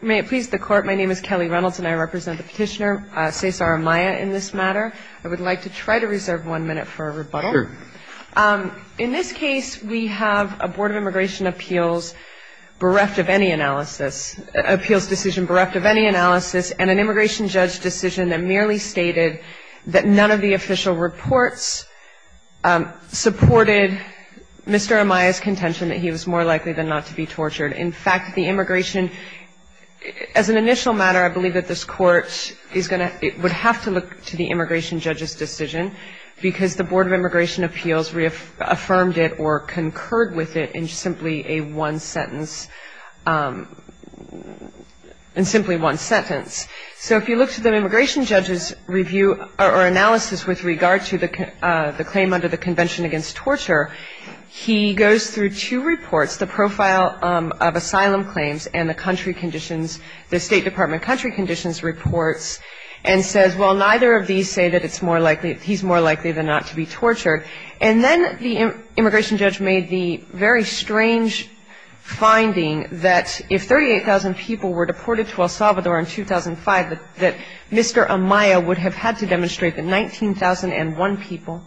May it please the court, my name is Kelly Reynolds and I represent the petitioner Cesar Amaya in this matter I would like to try to reserve one minute for a rebuttal In this case, we have a Board of Immigration Appeals bereft of any analysis appeals decision bereft of any analysis and an immigration judge decision that merely stated That none of the official reports Supported Mr. Amaya's contention that he was more likely than not to be tortured. In fact the immigration As an initial matter, I believe that this court is going to it would have to look to the immigration judge's decision Because the Board of Immigration Appeals reaffirmed it or concurred with it in simply a one sentence In simply one sentence So if you look to the immigration judge's review or analysis with regard to the claim under the Convention Against Torture He goes through two reports the profile of asylum claims and the country conditions the State Department country conditions Reports and says well neither of these say that it's more likely He's more likely than not to be tortured and then the immigration judge made the very strange Finding that if 38,000 people were deported to El Salvador in 2005 that Mr Amaya would have had to demonstrate that 19,001 people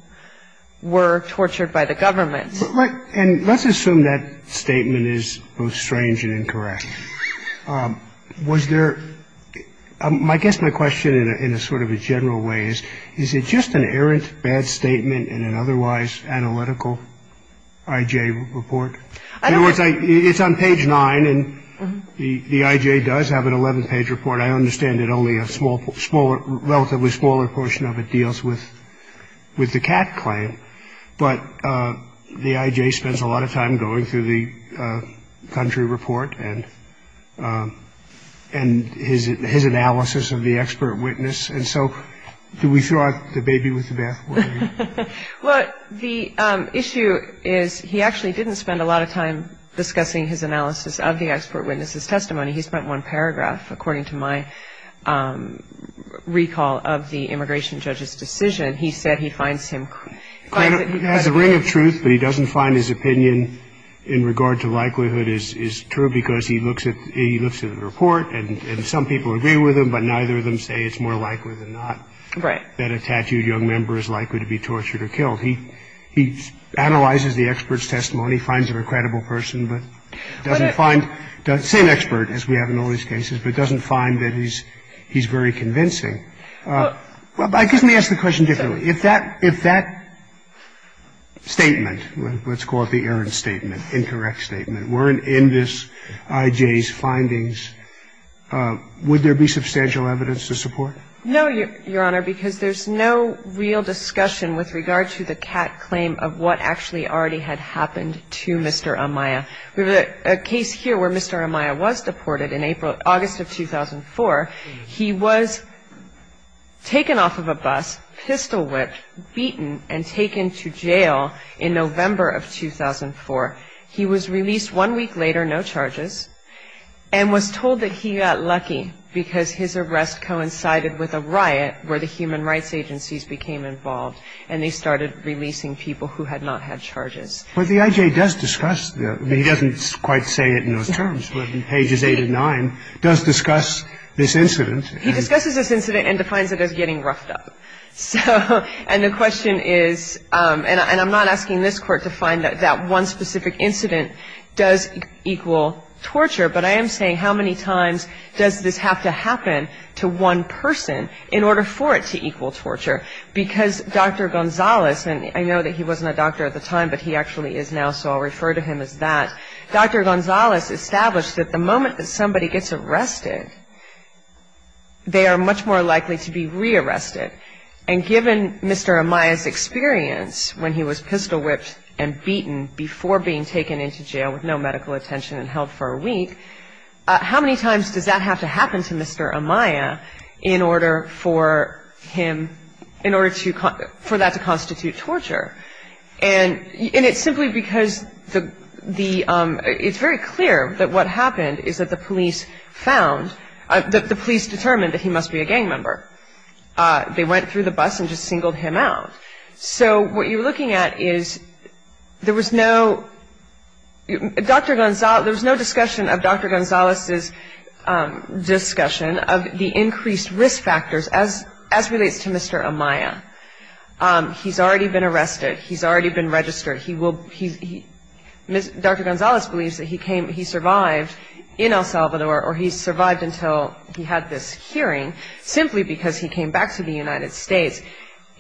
Were tortured by the government right and let's assume that statement is both strange and incorrect Was there My guess my question in a sort of a general way is is it just an errant bad statement in an otherwise analytical IJ report I don't think it's on page 9 and the the IJ does have an 11 page report I understand it only a small smaller relatively smaller portion of it deals with With the cat claim, but the IJ spends a lot of time going through the country report and and His his analysis of the expert witness and so do we throw out the baby with the bathwater? What the issue is he actually didn't spend a lot of time discussing his analysis of the expert witnesses testimony He spent one paragraph according to my Recall of the immigration judge's decision. He said he finds him As a ring of truth, but he doesn't find his opinion in regard to likelihood is is true because he looks at he looks at The report and some people agree with him But neither of them say it's more likely than not right that a tattooed young member is likely to be tortured or killed he he analyzes the experts testimony finds an incredible person, but Doesn't find the same expert as we have in all these cases, but doesn't find that he's he's very convincing Well, I guess me ask the question differently if that if that Statement let's call it the errand statement incorrect statement weren't in this IJ's findings Would there be substantial evidence to support? No, your honor because there's no real discussion with regard to the cat claim of what actually already had happened to mr Amaya, we were a case here where mr. Amaya was deported in April August of 2004 he was Taken off of a bus pistol-whipped beaten and taken to jail in November of 2004 He was released one week later. No charges and Was told that he got lucky because his arrest coincided with a riot where the human rights agencies became involved and they started Releasing people who had not had charges But the IJ does discuss that he doesn't quite say it in those terms when pages 8 and 9 does discuss this incident He discusses this incident and defines it as getting roughed up So and the question is and I'm not asking this court to find that that one specific incident does equal Torture, but I am saying how many times does this have to happen to one person in order for it to equal torture? Because dr. Gonzalez and I know that he wasn't a doctor at the time, but he actually is now so I'll refer to him as that Dr. Gonzalez established that the moment that somebody gets arrested They are much more likely to be rearrested and given mr Amaya's experience when he was pistol-whipped and beaten before being taken into jail with no medical attention and held for a week How many times does that have to happen to? Mr. Amaya in order for him? in order to cut for that to constitute torture and and it's simply because the the It's very clear that what happened is that the police found that the police determined that he must be a gang member They went through the bus and just singled him out. So what you're looking at is There was no Dr. Gonzalez, there was no discussion of dr. Gonzalez's Discussion of the increased risk factors as as relates to mr. Amaya He's already been arrested. He's already been registered. He will he Dr. Gonzalez believes that he came he survived in El Salvador or he survived until he had this hearing simply because he came back to the United States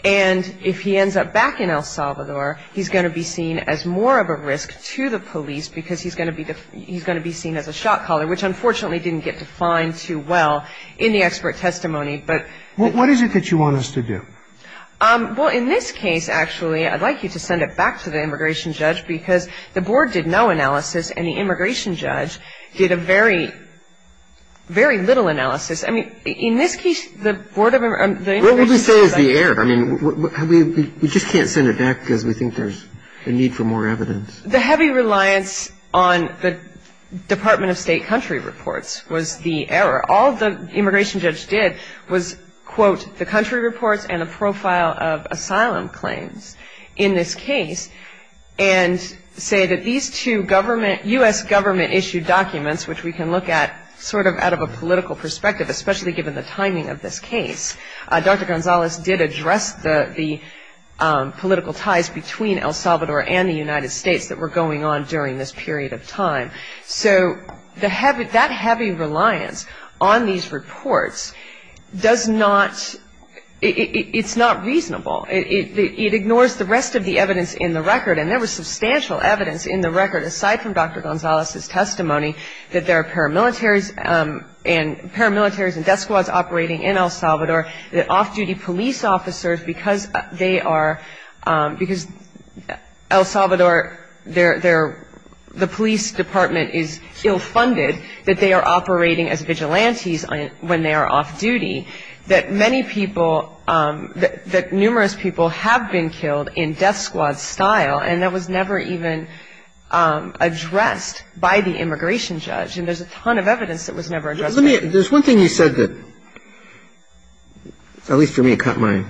and If he ends up back in El Salvador He's going to be seen as more of a risk to the police because he's going to be the he's going to be seen as a Which unfortunately didn't get to find too well in the expert testimony, but what is it that you want us to do? Well in this case, actually I'd like you to send it back to the immigration judge because the board did no analysis and the immigration judge did a very Very little analysis. I mean in this case the board of the air I mean we just can't send it back because we think there's a need for more evidence the heavy reliance on the Department of State country reports was the error all the immigration judge did was quote the country reports and a profile of asylum claims in this case and Say that these two government US government issued documents, which we can look at sort of out of a political perspective Especially given the timing of this case. Dr. Gonzalez did address the the El Salvador and the United States that were going on during this period of time So the habit that heavy reliance on these reports does not It's not reasonable. It ignores the rest of the evidence in the record and there was substantial evidence in the record aside from dr Gonzalez's testimony that there are paramilitaries and paramilitaries and death squads operating in El Salvador that off-duty police officers because they are Because El Salvador there there the police department is ill-funded that they are operating as vigilantes When they are off-duty that many people That numerous people have been killed in death squad style and that was never even Addressed by the immigration judge and there's a ton of evidence that was never addressed. There's one thing you said that At least for me cut my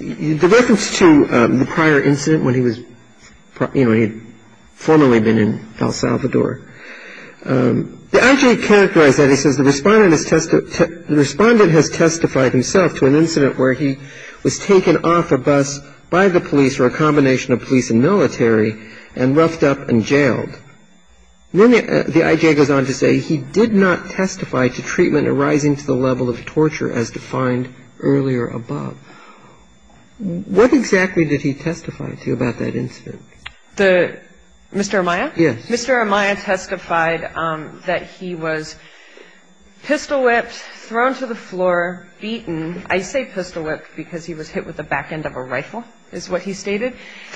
The reference to the prior incident when he was you know, he'd formerly been in El Salvador The IJ characterized that he says the respondent is tested Respondent has testified himself to an incident where he was taken off a bus by the police or a combination of police and military and roughed up and jailed Then the IJ goes on to say he did not testify to treatment arising to the level of torture as defined Earlier above What exactly did he testify to about that incident the mr. Amaya? Yes, mr. Amaya testified that he was pistol-whipped thrown to the floor Beaten I say pistol-whipped because he was hit with the back end of a rifle is what he stated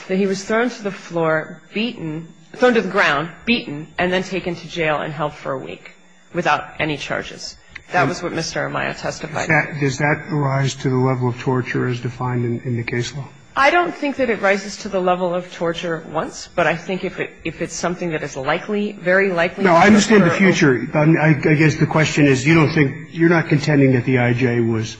Then he was thrown to the floor Beaten thrown to the ground beaten and then taken to jail and held for a week without any charges That was what mr. Amaya testified does that arise to the level of torture as defined in the case law I don't think that it rises to the level of torture once but I think if it if it's something that is likely very likely No, I understand the future. I guess the question is you don't think you're not contending that the IJ was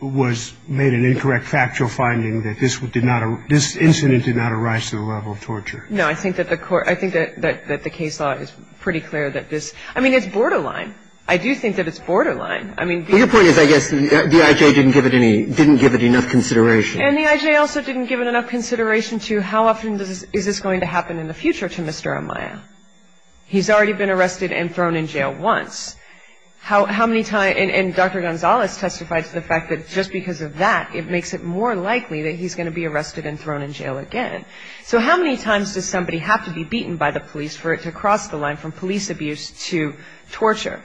Was made an incorrect factual finding that this would did not this incident did not arise to the level of torture No, I think that the court I think that that the case law is pretty clear that this I mean, it's borderline I do think that it's borderline I mean your point is I guess the IJ didn't give it any didn't give it enough consideration and the IJ also didn't give it Enough consideration to how often does is this going to happen in the future to mr. Amaya? He's already been arrested and thrown in jail once How many time and dr. Gonzales testified to the fact that just because of that it makes it more likely that he's going to be Arrested and thrown in jail again so how many times does somebody have to be beaten by the police for it to cross the line from police abuse to torture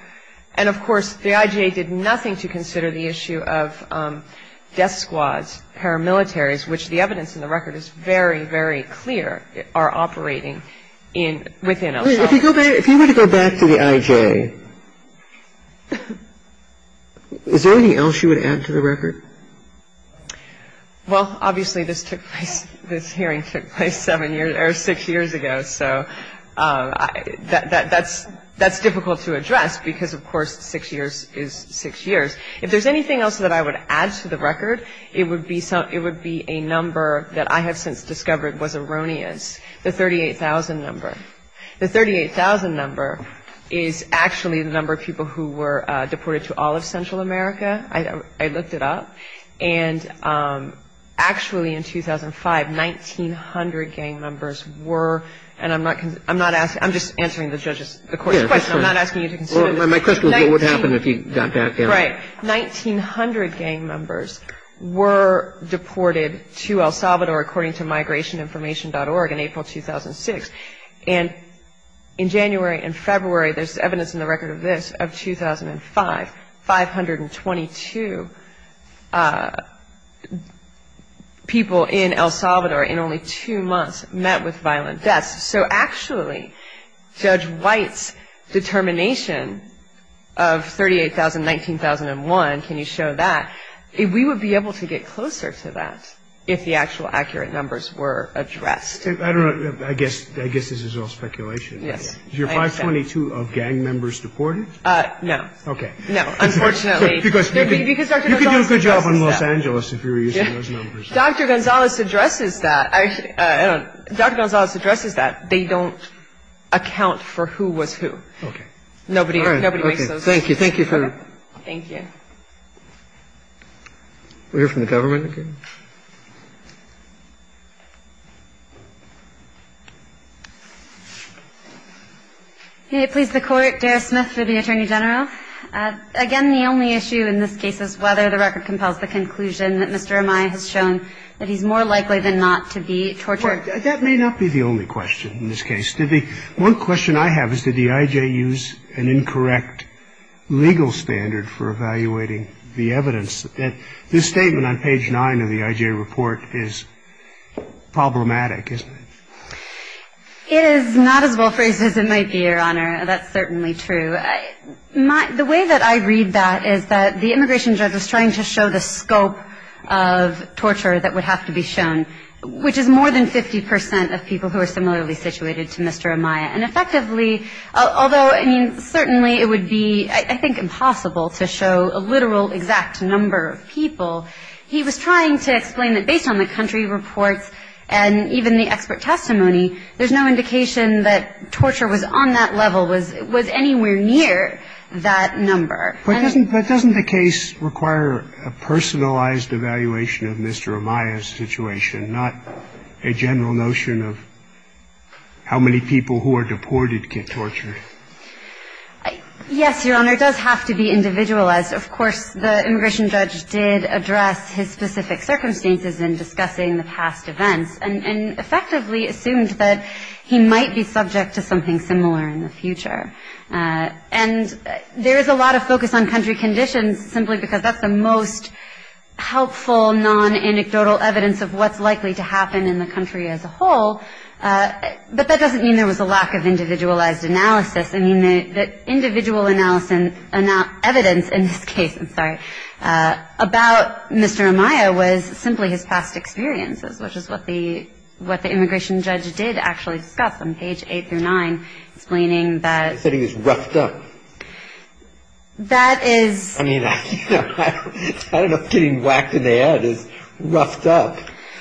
and of course the IJ did nothing to consider the issue of death squads Paramilitaries which the evidence in the record is very very clear are operating in within a little bit If you were to go back to the IJ Is there anything else you would add to the record Well, obviously this took place this hearing took place seven years or six years ago, so That that's that's difficult to address because of course six years is six years if there's anything else that I would add to the record It would be something it would be a number that I have since discovered was erroneous the 38,000 number the 38,000 number Is actually the number of people who were deported to all of Central America. I looked it up and Actually in 2005 1,900 gang members were and I'm not I'm not asking I'm just answering the judges 1900 gang members were Deported to El Salvador according to migration information org in April 2006 and in January and February there's evidence in the record of this of 2005 522 People In El Salvador in only two months met with violent deaths, so actually judge White's determination of 38,000 19,001 can you show that if we would be able to get closer to that if the actual accurate numbers were Addressed I don't know I guess I guess this is all speculation. Yes, you're 522 of gang members deported No, okay, no, unfortunately Good job in Los Angeles Dr. Gonzalez addresses that I Dr. Gonzalez addresses that they don't Account for who was who? Okay. Nobody. All right. Thank you. Thank you for thank you We're from the government Okay Hey, please the court Derek Smith for the Attorney General Again, the only issue in this case is whether the record compels the conclusion that mr Am I has shown that he's more likely than not to be tortured that may not be the only question in this case to be One question I have is did the IJ use an incorrect? Legal standard for evaluating the evidence that this statement on page 9 of the IJ report is Problematic isn't it? It is not as well phrased as it might be your honor. That's certainly true my the way that I read that is that the immigration judge was trying to show the scope of Torture that would have to be shown which is more than 50% of people who are similarly situated to mr Amaya and effectively although I mean certainly it would be I think impossible to show a literal exact number of people He was trying to explain that based on the country reports and even the expert testimony There's no indication that torture was on that level was it was anywhere near that number But doesn't that doesn't the case require a personalized evaluation of mr Amaya's situation not a general notion of How many people who are deported get tortured Yes, your honor does have to be individualized of course the immigration judge did address his specific Circumstances in discussing the past events and and effectively assumed that he might be subject to something similar in the future and There is a lot of focus on country conditions simply because that's the most Helpful non-anecdotal evidence of what's likely to happen in the country as a whole But that doesn't mean there was a lack of individualized analysis. I mean the individual analysis and not evidence in this case. I'm sorry About mr. Amaya was simply his past experiences Which is what the what the immigration judge did actually discuss on page eight through nine explaining that he was roughed up That is Getting whacked in the head is roughed up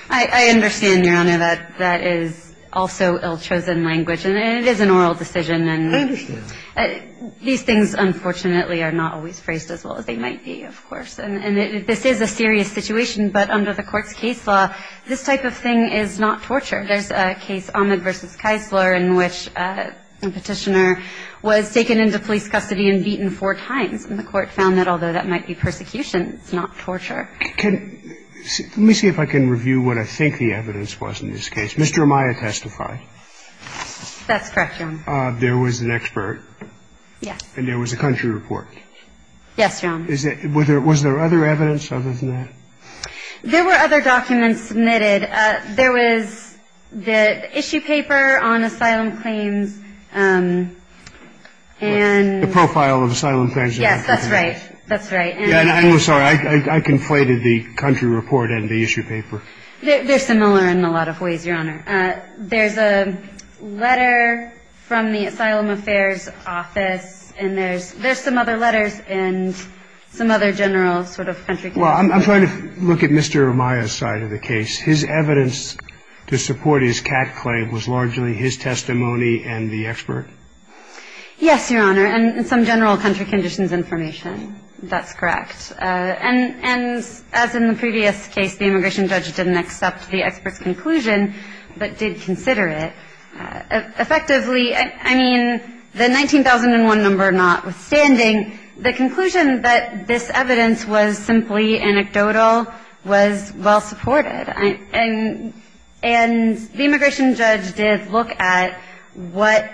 I Understand your honor that that is also ill-chosen language, and it is an oral decision and These things unfortunately are not always phrased as well as they might be of course and this is a serious situation But under the court's case law this type of thing is not torture. There's a case on the versus Keisler in which Petitioner was taken into police custody and beaten four times and the court found that although that might be persecution. It's not torture can Let me see if I can review what I think the evidence was in this case. Mr. Amaya testified That's correct. There was an expert Yes, and there was a country report Yes, John. Is it whether it was there other evidence other than that? There were other documents submitted There was the issue paper on asylum claims And the profile of asylum, yes, that's right, that's right And I'm sorry, I can play to the country report and the issue paper. They're similar in a lot of ways your honor there's a letter from the Asylum Affairs Office and there's there's some other letters and Some other general sort of country. Well, I'm trying to look at mr Amaya side of the case his evidence to support his cat claim was largely his testimony and the expert Yes, your honor and some general country conditions information. That's correct And and as in the previous case the immigration judge didn't accept the experts conclusion, but did consider it Effectively, I mean the 19,001 number notwithstanding the conclusion that this evidence was simply anecdotal was well supported and and The immigration judge did look at what?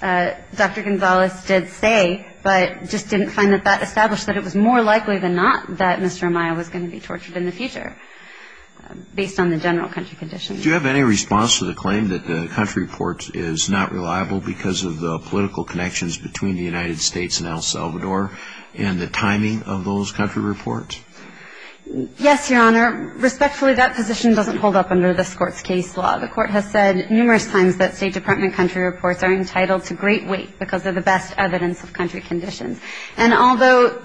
Dr. Gonzalez did say but just didn't find that that established that it was more likely than not that mr Amaya was going to be tortured in the future Based on the general country condition Do you have any response to the claim that the country report is not reliable because of the political connections between the United States and El Salvador and the timing of those country reports Yes, your honor Respectfully that position doesn't hold up under this court's case law The court has said numerous times that State Department country reports are entitled to great weight because of the best evidence of country conditions The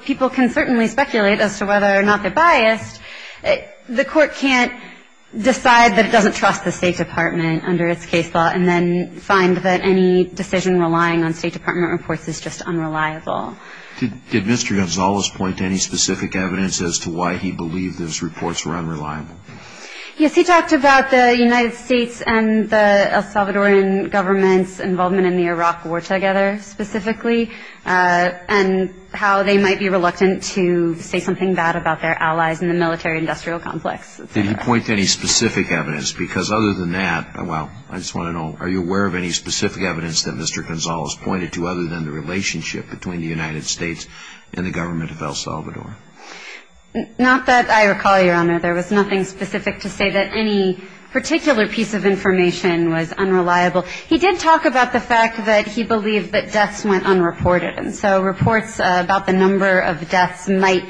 court can't Decide that it doesn't trust the State Department under its case law and then find that any decision relying on State Department reports is just unreliable Did mr. Gonzalez point to any specific evidence as to why he believed those reports were unreliable? Yes, he talked about the United States and the El Salvadorian government's involvement in the Iraq war together specifically And how they might be reluctant to say something bad about their allies in the military industrial complex Did you point to any specific evidence because other than that? Well, I just want to know are you aware of any specific evidence that mr Gonzalez pointed to other than the relationship between the United States and the government of El Salvador Not that I recall your honor. There was nothing specific to say that any About the fact that he believed that deaths went unreported and so reports about the number of deaths might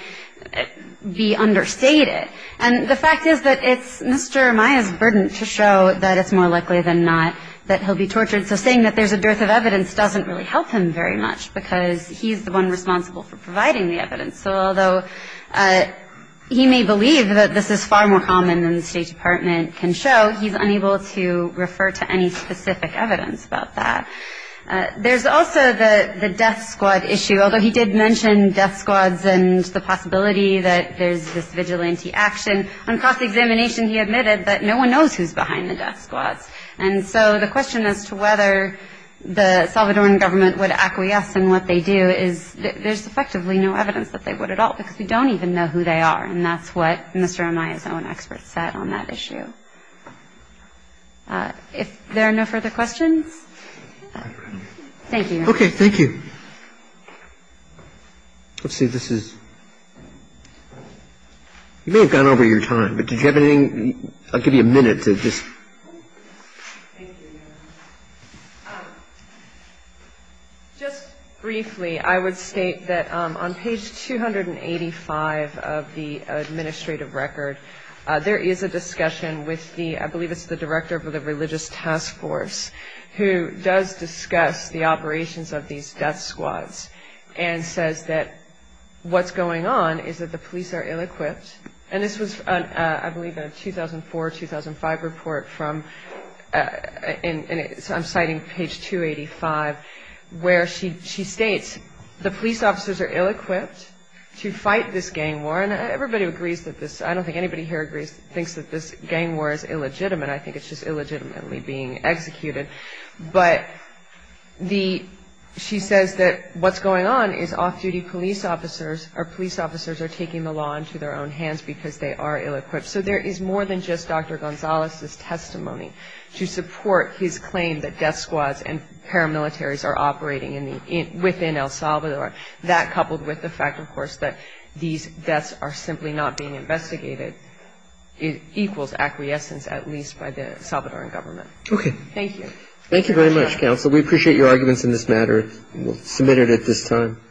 Be understated and the fact is that it's mr Maya's burden to show that it's more likely than not that he'll be tortured So saying that there's a dearth of evidence doesn't really help him very much because he's the one responsible for providing the evidence so although He may believe that this is far more common than the State Department can show he's unable to refer to any specific evidence about that There's also the the death squad issue Although he did mention death squads and the possibility that there's this vigilante action on cross-examination He admitted that no one knows who's behind the death squads. And so the question as to whether The Salvadoran government would acquiesce and what they do is There's effectively no evidence that they would at all because we don't even know who they are and that's what mr Amaya's own experts said on that issue If there are no further questions, thank you. Okay. Thank you Let's see, this is You may have gone over your time, but did you have anything I'll give you a minute to just Just briefly I would state that on page 285 of the I believe it's the director of the religious task force who does discuss the operations of these death squads and says that What's going on? Is that the police are ill-equipped and this was I believe in a 2004 2005 report from? And it's I'm citing page 285 Where she she states the police officers are ill-equipped To fight this gang war and everybody agrees that this I don't think anybody here agrees thinks that this gang war is illegitimate I think it's just illegitimately being executed but the She says that what's going on is off-duty police officers Our police officers are taking the law into their own hands because they are ill-equipped. So there is more than just dr Gonzalez's testimony to support his claim that death squads and Paramilitaries are operating in the in within El Salvador that coupled with the fact of course that these deaths are simply not being investigated It equals acquiescence at least by the Salvadoran government. Okay. Thank you. Thank you very much counsel We appreciate your arguments in this matter. We'll submit it at this time